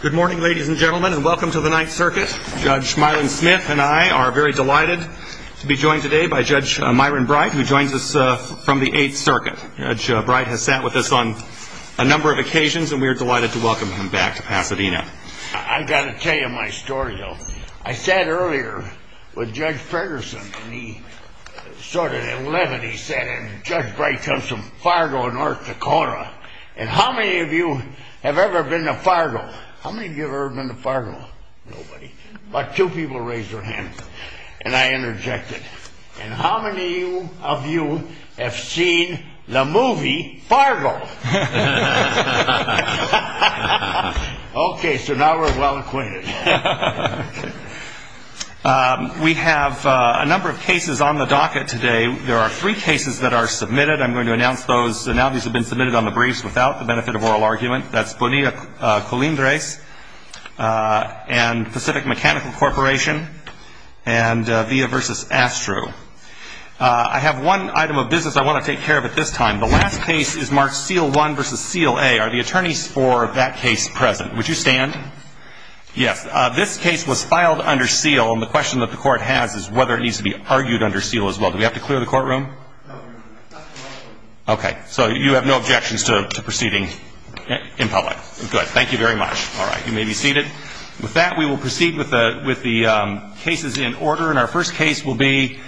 Good morning ladies and gentlemen and welcome to the Ninth Circuit. Judge Myron Smith and I are very delighted to be joined today by Judge Myron Bright who joins us from the Eighth Circuit. Judge Bright has sat with us on a number of occasions and we are delighted to welcome him back to Pasadena. I've got to tell you my story though. I sat earlier with Judge Ferguson and he sorted eleven he said and Judge Bright comes from Fargo, North Dakota. And how many of you have ever been to Fargo? How many of you have ever been to Fargo? Nobody. But two people raised their hands and I interjected. And how many of you have seen the movie Fargo? Okay, so now we're well acquainted. We have a number of cases on the docket today. There are three cases that are submitted. I'm going to announce those. So now these have been briefed without the benefit of oral argument. That's Bonilla-Colindres and Pacific Mechanical Corporation and Villa v. Astro. I have one item of business I want to take care of at this time. The last case is marked Seal 1 v. Seal A. Are the attorneys for that case present? Would you stand? Yes. This case was filed under seal and the question that the court has is whether it needs to be argued under seal as well. Do we have to clear the case? Yes. Thank you very much. You may be seated. With that we will proceed with the cases in order. And our first case will be,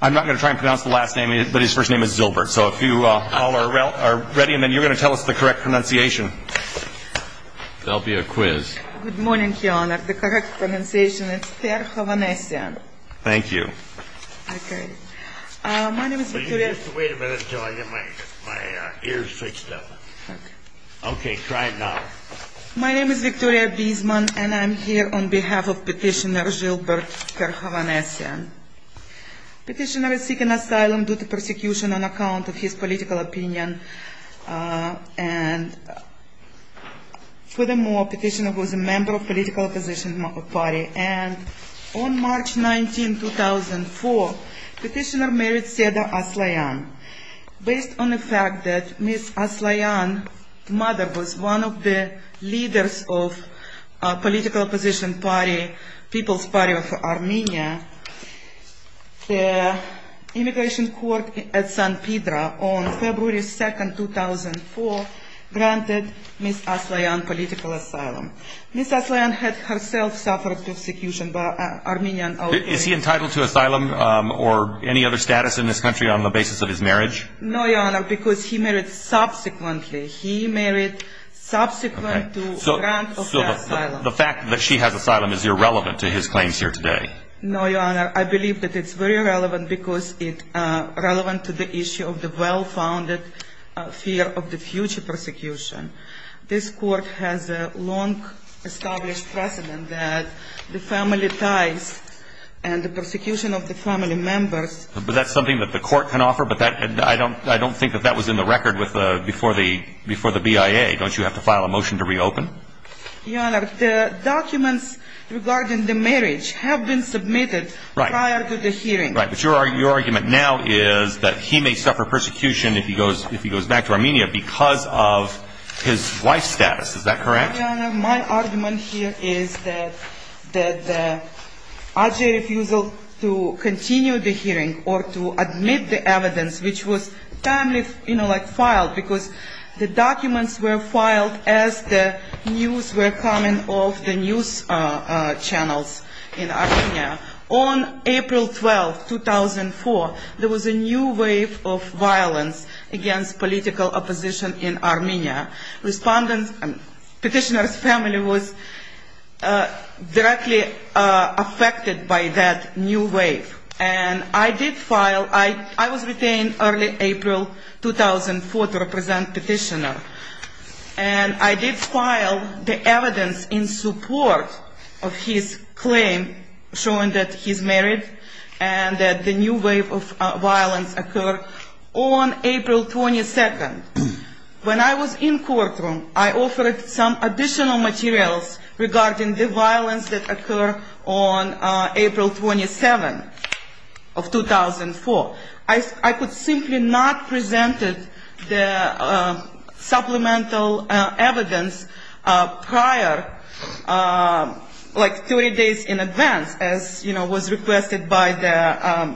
I'm not going to try and pronounce the last name, but his first name is Zilbert. So if you all are ready, and then you're going to tell us the correct pronunciation. That will be a quiz. Good morning, Your Honor. The correct pronunciation is Fair Havanesian. Thank you. Wait a minute until I get my ears fixed up. Okay. Try it now. My name is Victoria Bisman and I'm here on behalf of Petitioner Zilbert Fair Havanesian. Petitioner is seeking asylum due to persecution on account of his political opinion. And furthermore, Petitioner was a member of political opposition party. And on March 19, 2004, Petitioner married Seda Aslayan. Based on the fact that Ms. Aslayan mother was one of the leaders of political opposition party, People's Party of Armenia, the immigration court at San Pedro on February 2, 2004, granted Ms. Aslayan political asylum. Ms. Aslayan had herself suffered persecution by Armenian. Is he entitled to asylum or any other status in this country on the basis of his marriage? No, Your Honor, because he married subsequent to grant of asylum. So the fact that she has asylum is irrelevant to his claims here today? No, Your Honor. I believe that it's very relevant because it relevant to the issue of the well-founded fear of the future persecution. This court has a long established precedent that the family ties and the persecution of the family members. But that's something that the court can offer? But I don't think that that was in the record before the BIA. Don't you have to file a motion to reopen? Your Honor, the documents regarding the marriage have been submitted prior to the hearing. But your argument now is that he may suffer persecution if he goes back to Armenia because of his wife's status. Is that correct? Your Honor, my argument here is that the RGA refusal to continue the file because the documents were filed as the news were coming off the news channels in Armenia. On April 12, 2004, there was a new wave of violence against political opposition in Armenia. Respondents and petitioners' family was directly affected by that new wave. And I did file, I was retained early April 2004 to represent petitioner. And I did file the evidence in support of his claim showing that he's married and that the new wave of violence occurred on April 22. When I was in courtroom, I offered some additional materials regarding the violence that occurred on April 27 of 2004. I could simply not present the supplemental evidence prior, like 30 days in advance, as was requested by the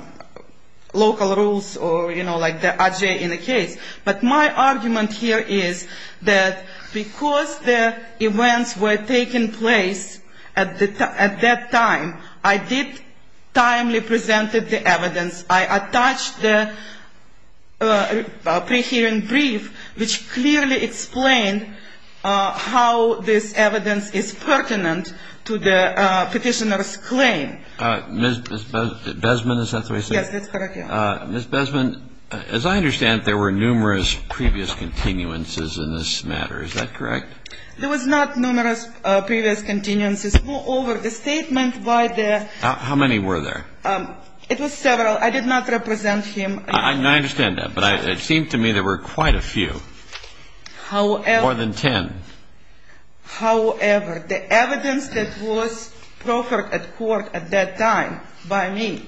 local rules or the RGA in the case. But my argument here is that because the events were taking place at that time, I did timely present the evidence. I attached the pre-hearing brief which clearly explained how this evidence is pertinent to the petitioner's claim. Ms. Besman, as I understand, there were numerous previous continuances in this matter. Is that correct? There was not numerous previous continuances. Moreover, the statement by the... How many were there? It was several. I did not represent him. I understand that. But it seemed to me there were quite a few. More than 10. However, the evidence that was offered at court at that time by me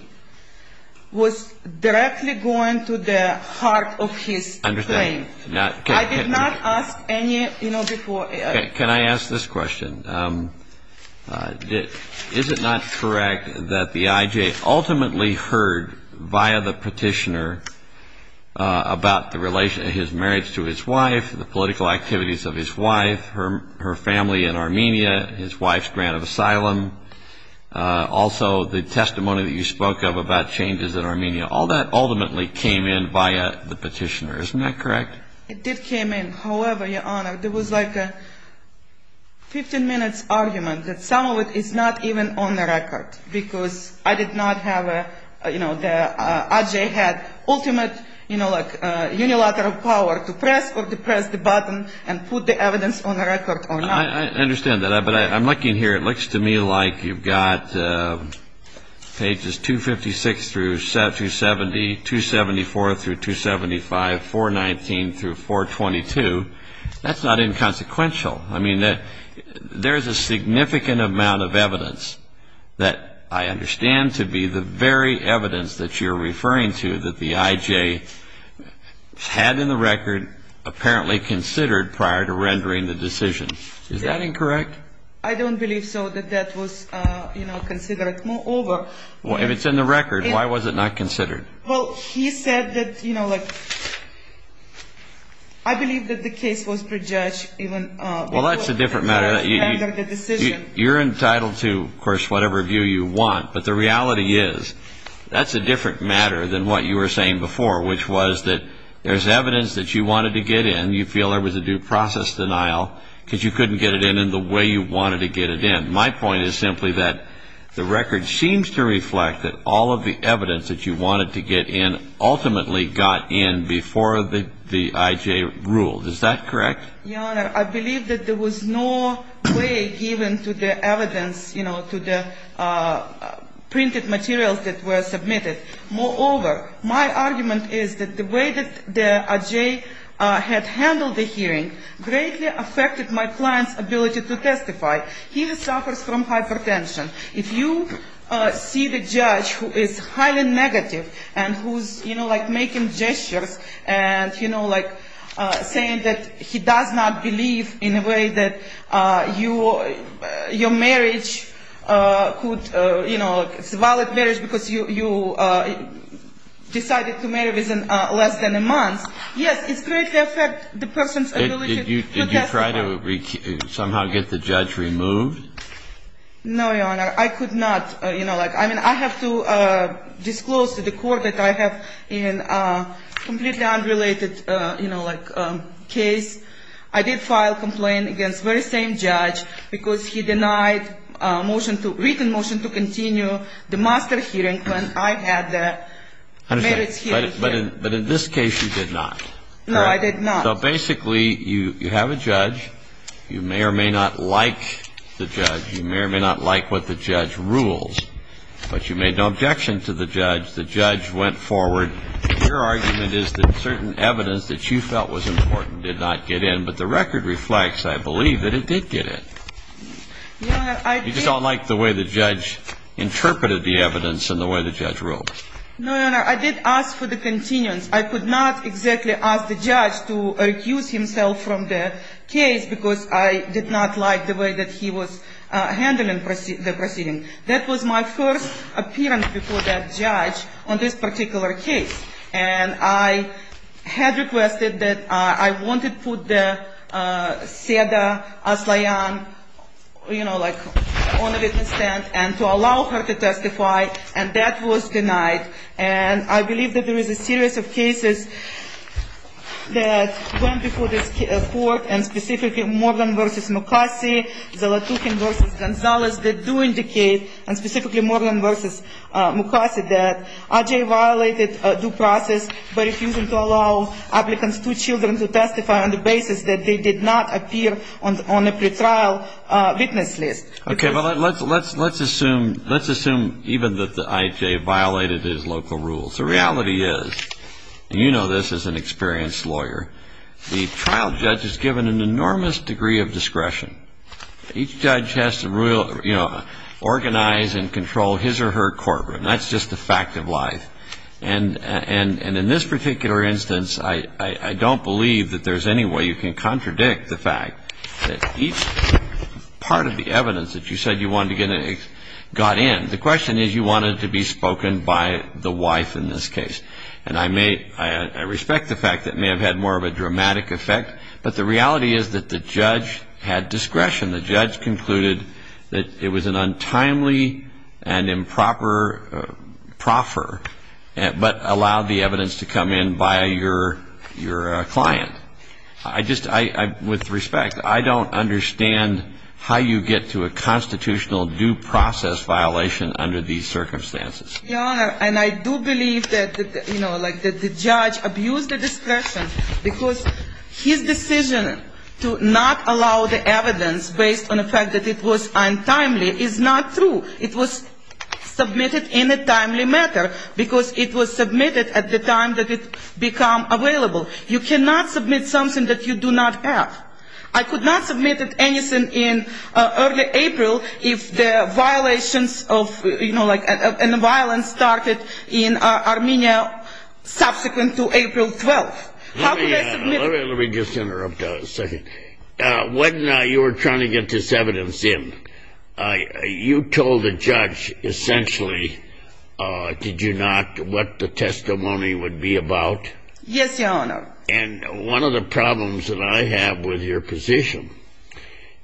was directly going to the heart of his claim. I did not ask any... Can I ask this question? Is it not correct that the IJ ultimately heard via the petitioner about the relation of his marriage to his wife, the political activities of his wife, her family, the testimony that you spoke of about changes in Armenia? All that ultimately came in via the petitioner. Isn't that correct? It did come in. However, Your Honor, there was like a 15-minute argument that some of it is not even on the record because I did not have a... The IJ had ultimate unilateral power to press or depress the button and put the evidence on the record or not. I understand that. But I'm looking here. It looks to me like you've got pages 256 through 270, 274 through 275, 419 through 422. That's not inconsequential. I mean, there's a significant amount of evidence that I understand to be the very evidence that you're referring to that the IJ had in the record, apparently considered prior to the decision. If it's in the record, why was it not considered? Well, he said that... I believe that the case was prejudged even before the decision. Well, that's a different matter. You're entitled to, of course, whatever view you want, but the reality is that's a different matter than what you were saying before, which was that there's evidence that you wanted to get in. You feel there was a due process denial because you couldn't get it in in the way you wanted to get it in. My point is simply that the record seems to reflect that all of the evidence that you wanted to get in ultimately got in before the IJ ruled. Is that correct? Your Honor, I believe that there was no way given to the evidence, you know, to the printed materials that were submitted. Moreover, my argument is that the way that the IJ had handled the hearing greatly affected my client's ability to testify. He suffers from hypertension. If you see the judge who is highly negative and who's making gestures and saying that he does not believe in a way that your marriage could, you know, it's a valid marriage because you decided to marry less than a month. Yes, it greatly affected the person's ability to testify. Did you try to somehow get the judge removed? No, Your Honor. I could not. I mean, I have to disclose to the court that I have a completely unrelated case. I did file a complaint against the very same judge because he denied a written motion to continue the master hearing when I had the marriage hearing. But in this case, you did not. No, I did not. So basically, you have a judge. You may or may not like the judge. You may or may not like what the judge rules. But you made no objection to the judge. The judge went forward. Your argument is that certain evidence that you felt was important did not get in, but the record reflects, I believe, that it did get in. You just don't like the way the judge interpreted the evidence and the way the judge ruled. No, Your Honor. I did ask for the continuance. I could not exactly ask the judge to recuse himself from the case because I did not like the way that he was handling the proceeding. That was my first appearance before that judge on this particular case. And I had requested that I wanted to put Seda Aslayan on the witness stand and to allow her to testify, and that was denied. And I believe that there is a series of cases that went before this court and specifically Moreland v. Mukasey, Zalatukhin v. Gonzalez that do indicate, and specifically violated due process by refusing to allow applicants to children to testify on the basis that they did not appear on the pretrial witness list. Okay, but let's assume even that the IHA violated his local rules. The reality is, and you know this as an experienced lawyer, the trial judge is given an enormous degree of discretion. Each judge has to, you know, organize and control his or her courtroom. That's just the fact of life. And in this particular instance, I don't believe that there's any way you can contradict the fact that each part of the evidence that you said you wanted to get got in. The question is, you want it to be spoken by the wife in this case. And I respect the fact that it may have had more of a dramatic effect, but the reality is that the judge had discretion. The judge concluded that it was an untimely and improper proffer, but allowed the evidence to come in by your client. I just, with respect, I don't understand how you get to a constitutional due process violation under these circumstances. Your Honor, and I do believe that, you know, like the judge abused the discretion because his decision to not allow the evidence based on the fact that it was untimely is not true. It was submitted in a timely matter because it was submitted at the time that it become available. You cannot submit something that you do not have. I could not submit anything in early April if the violations of, you know, like, and the violence started in Armenia subsequent to April 12th. How could I submit? Let me just interrupt a second. When you were trying to get this evidence in, you told the judge essentially, did you not, what the testimony would be about? Yes, Your Honor. And one of the problems that I have with your position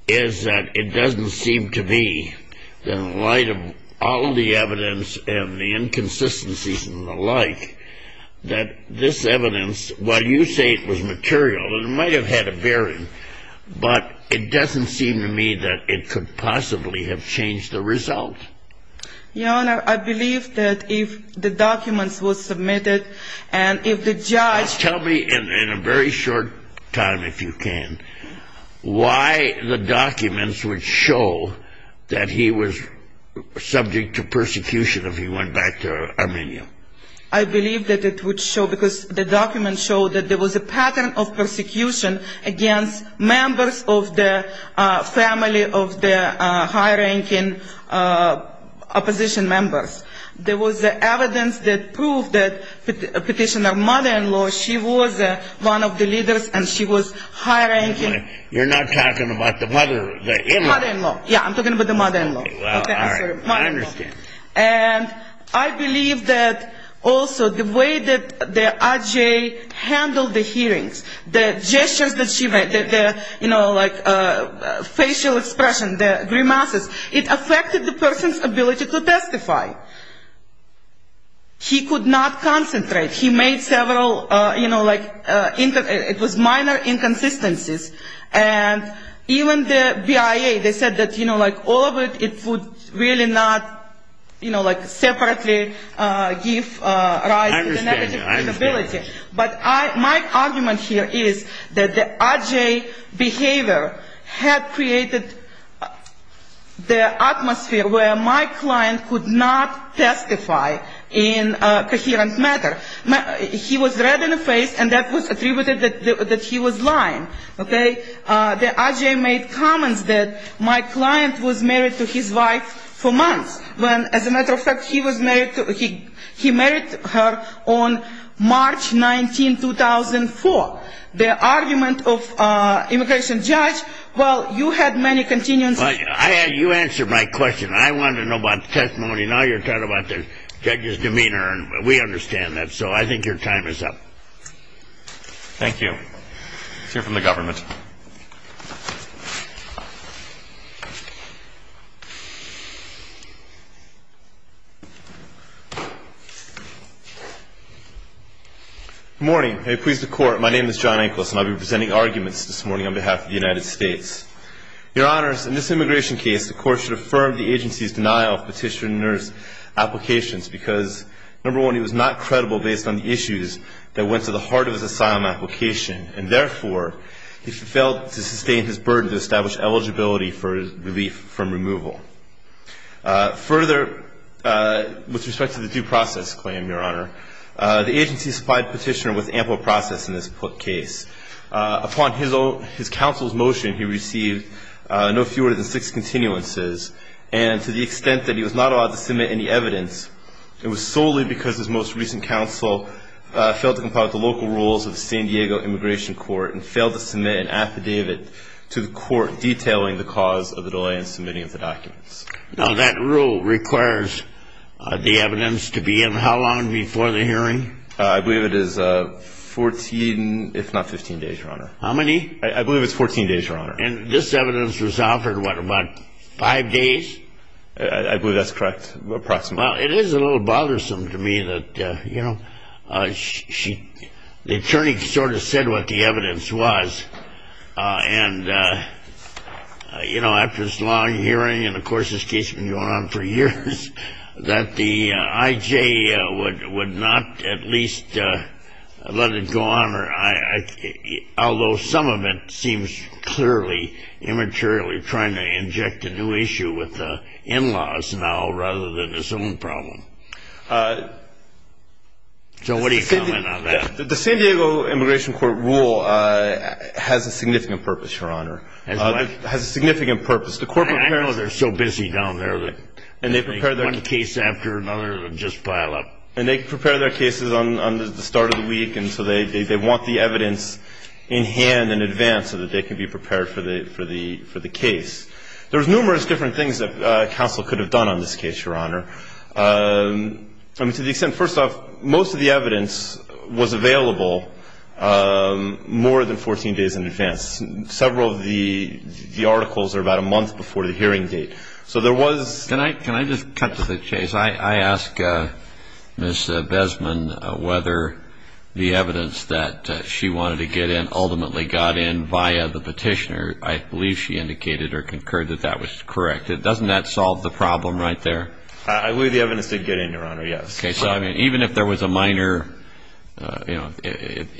is that it doesn't seem to me that in light of all the evidence and the inconsistencies and the like, that this evidence, while you say it was material, it might have had a bearing, but it doesn't seem to me that it could possibly have changed the result. Your Honor, I believe that if the documents were submitted and if the judge... Tell me in a very short time, if you can, why the documents would show that he was, subject to persecution if he went back to Armenia? I believe that it would show, because the documents show that there was a pattern of persecution against members of the family of the high-ranking opposition members. There was evidence that proved that Petitioner's mother-in-law, she was one of the leaders and she was high-ranking... Mother-in-law, yeah, I'm talking about the mother-in-law. Okay, well, all right, I understand. And I believe that also the way that the IJA handled the hearings, the gestures that she made, the, you know, like facial expression, the grimaces, it affected the person's ability to testify. He could not concentrate. He made several, you know, like, it was minor inconsistencies. And even the BIA, they said that, you know, like, all of it, it would really not, you know, like, separately give rise to the negative capability. But my argument here is that the IJA behavior had created the atmosphere where my client could not testify in a coherent matter. He was red in the face and that was attributed that he was lying. Okay? The IJA made comments that my client was married to his wife for months when, as a matter of fact, he was married to, he married her on March 19, 2004. The argument of immigration judge, well, you had many continuance... Well, you answered my question. I wanted to know about the testimony. Now you're talking about the judge's demeanor and we understand that. So I think your time is up. Thank you. Let's hear from the government. Good morning. May it please the Court, my name is John Anklus and I'll be presenting arguments this morning on behalf of the United States. Your Honors, in this immigration case, the Court should affirm the agency's denial of asylum application and therefore, he failed to sustain his burden to establish eligibility for relief from removal. Further, with respect to the due process claim, Your Honor, the agency supplied petitioner with ample process in this case. Upon his counsel's motion, he received no fewer than six continuances and to the extent that he was not allowed to submit any evidence, it was solely because his most recent counsel failed to comply with the local rules of the San Diego Immigration Court and failed to submit an affidavit to the Court detailing the cause of the delay in submitting of the documents. Now that rule requires the evidence to be in how long before the hearing? I believe it is 14, if not 15 days, Your Honor. How many? I believe it's 14 days, Your Honor. And this evidence was offered, what, about five days? I believe that's correct, approximately. Well, it is a little bothersome to me that, you know, the attorney sort of said what the evidence was and, you know, after this long hearing, and of course, this case has been going on for years, that the IJ would not at least let it go on, although some of it seems clearly immaterially trying to in-laws now rather than its own problem. So what do you comment on that? The San Diego Immigration Court rule has a significant purpose, Your Honor. Has what? Has a significant purpose. I know they're so busy down there that one case after another will just pile up. And they prepare their cases on the start of the week, and so they want the evidence in hand in advance so that they can be prepared for the case. There's numerous different things that counsel could have done on this case, Your Honor. I mean, to the extent, first off, most of the evidence was available more than 14 days in advance. Several of the articles are about a month before the hearing date. So there was — Can I just cut to the chase? I ask Ms. Besman whether the evidence that she wanted to get in ultimately got in via the petitioner. I believe she indicated or concurred that that was correct. Doesn't that solve the problem right there? I believe the evidence did get in, Your Honor, yes. Okay. So, I mean, even if there was a minor —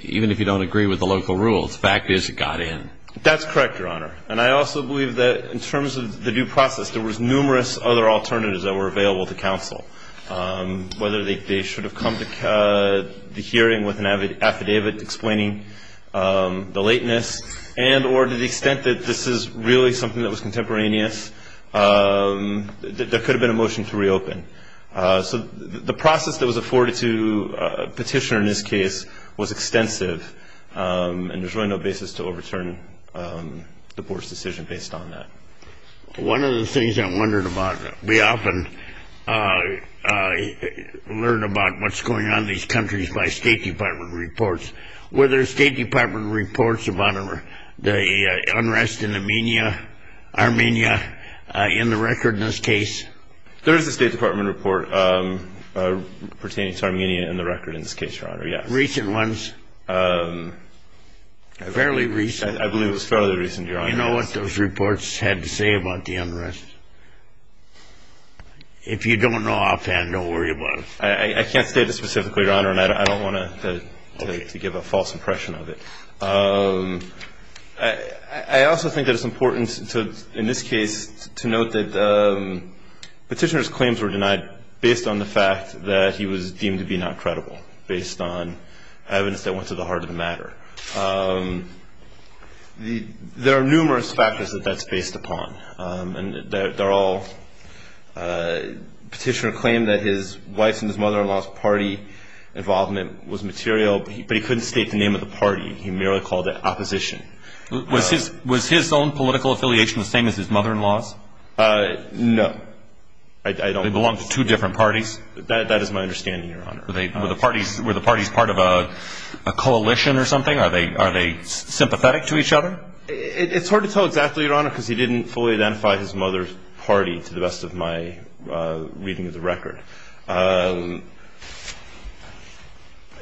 even if you don't agree with the local rules, the fact is it got in. That's correct, Your Honor. And I also believe that in terms of the due process, there was numerous other alternatives that were available to counsel, whether they should have come to the hearing with an affidavit explaining the lateness and or to the extent that this is really something that was contemporaneous, there could have been a motion to reopen. So the process that was afforded to a petitioner in this case was extensive, and there's really no basis to overturn the Court's decision based on that. One of the things I wondered about, we often learn about what's going on in these countries by State Department reports. Were there State Department reports about the unrest in Armenia in the record in this case? There is a State Department report pertaining to Armenia in the record in this case, Your Honor, yes. Recent ones? Fairly recent. I believe it was fairly recent, Your Honor. Do you know what those reports had to say about the unrest? If you don't know offhand, don't worry about it. I can't state it specifically, Your Honor, and I don't want to give a false impression of it. I also think that it's important, in this case, to note that the petitioner's claims were denied based on the fact that he was deemed to be not credible, based on evidence that went to the heart of the matter. There are numerous factors that that's based upon, and the petitioner claimed that his wife's and his mother-in-law's party involvement was material, but he couldn't state the name of the party. He merely called it opposition. Was his own political affiliation the same as his mother-in-law's? No. They belonged to two different parties? That is my understanding, Your Honor. Were the parties part of a coalition or something? Are they sympathetic to each other? It's hard to tell exactly, Your Honor, because he didn't fully identify his mother's party, to the best of my reading of the record. And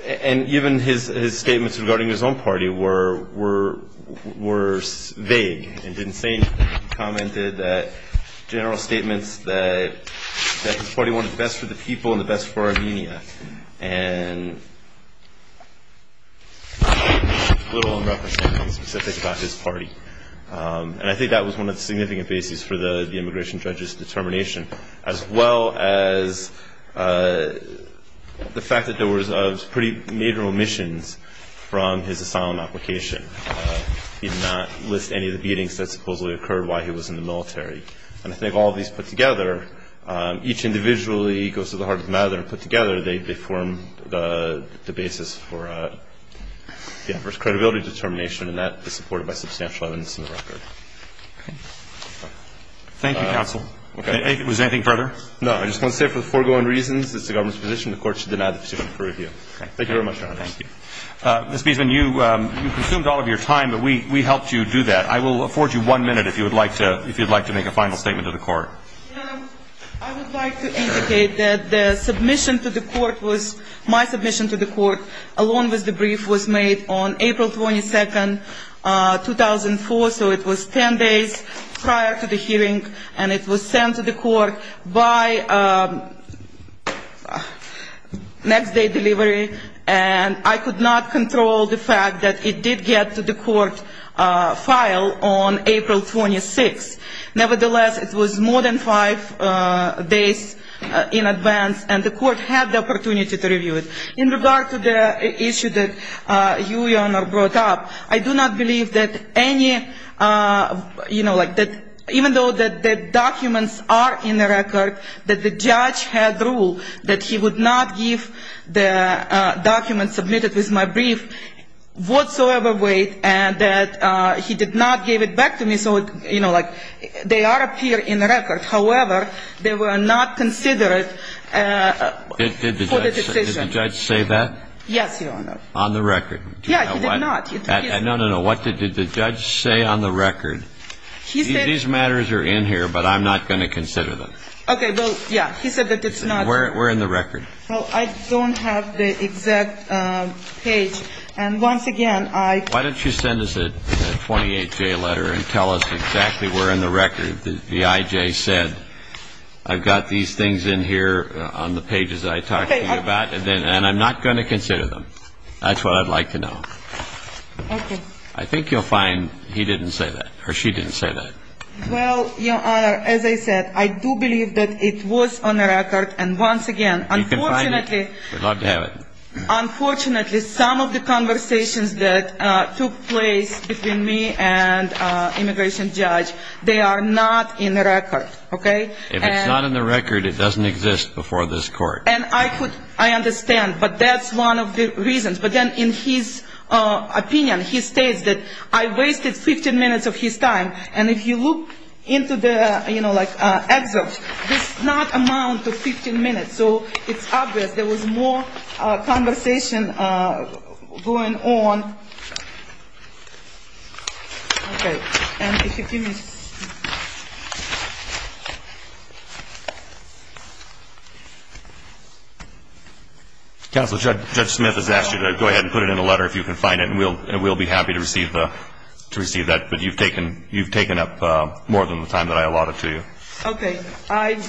even his statements regarding his own party were vague and didn't say anything. He commented that general statements that his party wanted the best for the people and the best for Armenia. And little in reference to anything specific about his party. And I think that was one of the significant bases for the immigration judge's determination, as well as the fact that there was pretty major omissions from his asylum application. He did not list any of the beatings that supposedly occurred while he was in the military. And I think all of these put together, each individually goes to the heart of the matter and put together, they form the basis for credibility determination, and that is supported by substantial evidence in the record. Thank you, counsel. Was there anything further? No. I just want to say for the foregoing reasons, it's the government's position the court should deny the position for review. Thank you very much, Your Honor. Thank you. Ms. Beesman, you consumed all of your time, but we helped you do that. I will afford you one minute if you would like to make a final statement to the court. I would like to indicate that the submission to the court was, my submission to the court, along with the brief, was made on April 22nd, 2004, so it was 10 days prior to the hearing, and it was sent to the court by next day delivery. And I could not control the fact that it did get to the court file on April 26th. Nevertheless, it was more than five days in advance, and the court had the opportunity to review it. In regard to the issue that you, Your Honor, brought up, I do not believe that any, you know, documents submitted with my brief whatsoever weight, and that he did not give it back to me, so, you know, like, they are up here in the record. However, they were not considered for the decision. Did the judge say that? Yes, Your Honor. On the record. Yeah, he did not. No, no, no. What did the judge say on the record? He said these matters are in here, but I'm not going to consider them. Okay, well, yeah. He said that it's not. Where in the record? Well, I don't have the exact page, and once again, I... Why don't you send us a 28-J letter and tell us exactly where in the record the IJ said, I've got these things in here on the pages that I talked to you about, and I'm not going to consider them. That's what I'd like to know. Okay. I think you'll find he didn't say that, or she didn't say that. Well, Your Honor, as I said, I do believe that it was on the record, and once again... You can find it. Unfortunately... We'd love to have it. Unfortunately, some of the conversations that took place between me and the immigration judge, they are not in the record, okay? If it's not in the record, it doesn't exist before this Court. And I understand, but that's one of the reasons. But then in his opinion, he states that I wasted 15 minutes of his time. And if you look into the excerpts, there's not an amount of 15 minutes. So it's obvious there was more conversation going on. Okay. And if you give me... Counsel, Judge Smith has asked you to go ahead and put it in a letter if you can find it, and we'll be happy to receive that. But you've taken up more than the time that I allotted to you. Okay. I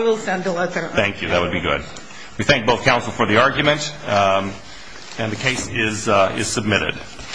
will send the letter. Thank you. That would be good. We thank both counsel for the argument, and the case is submitted.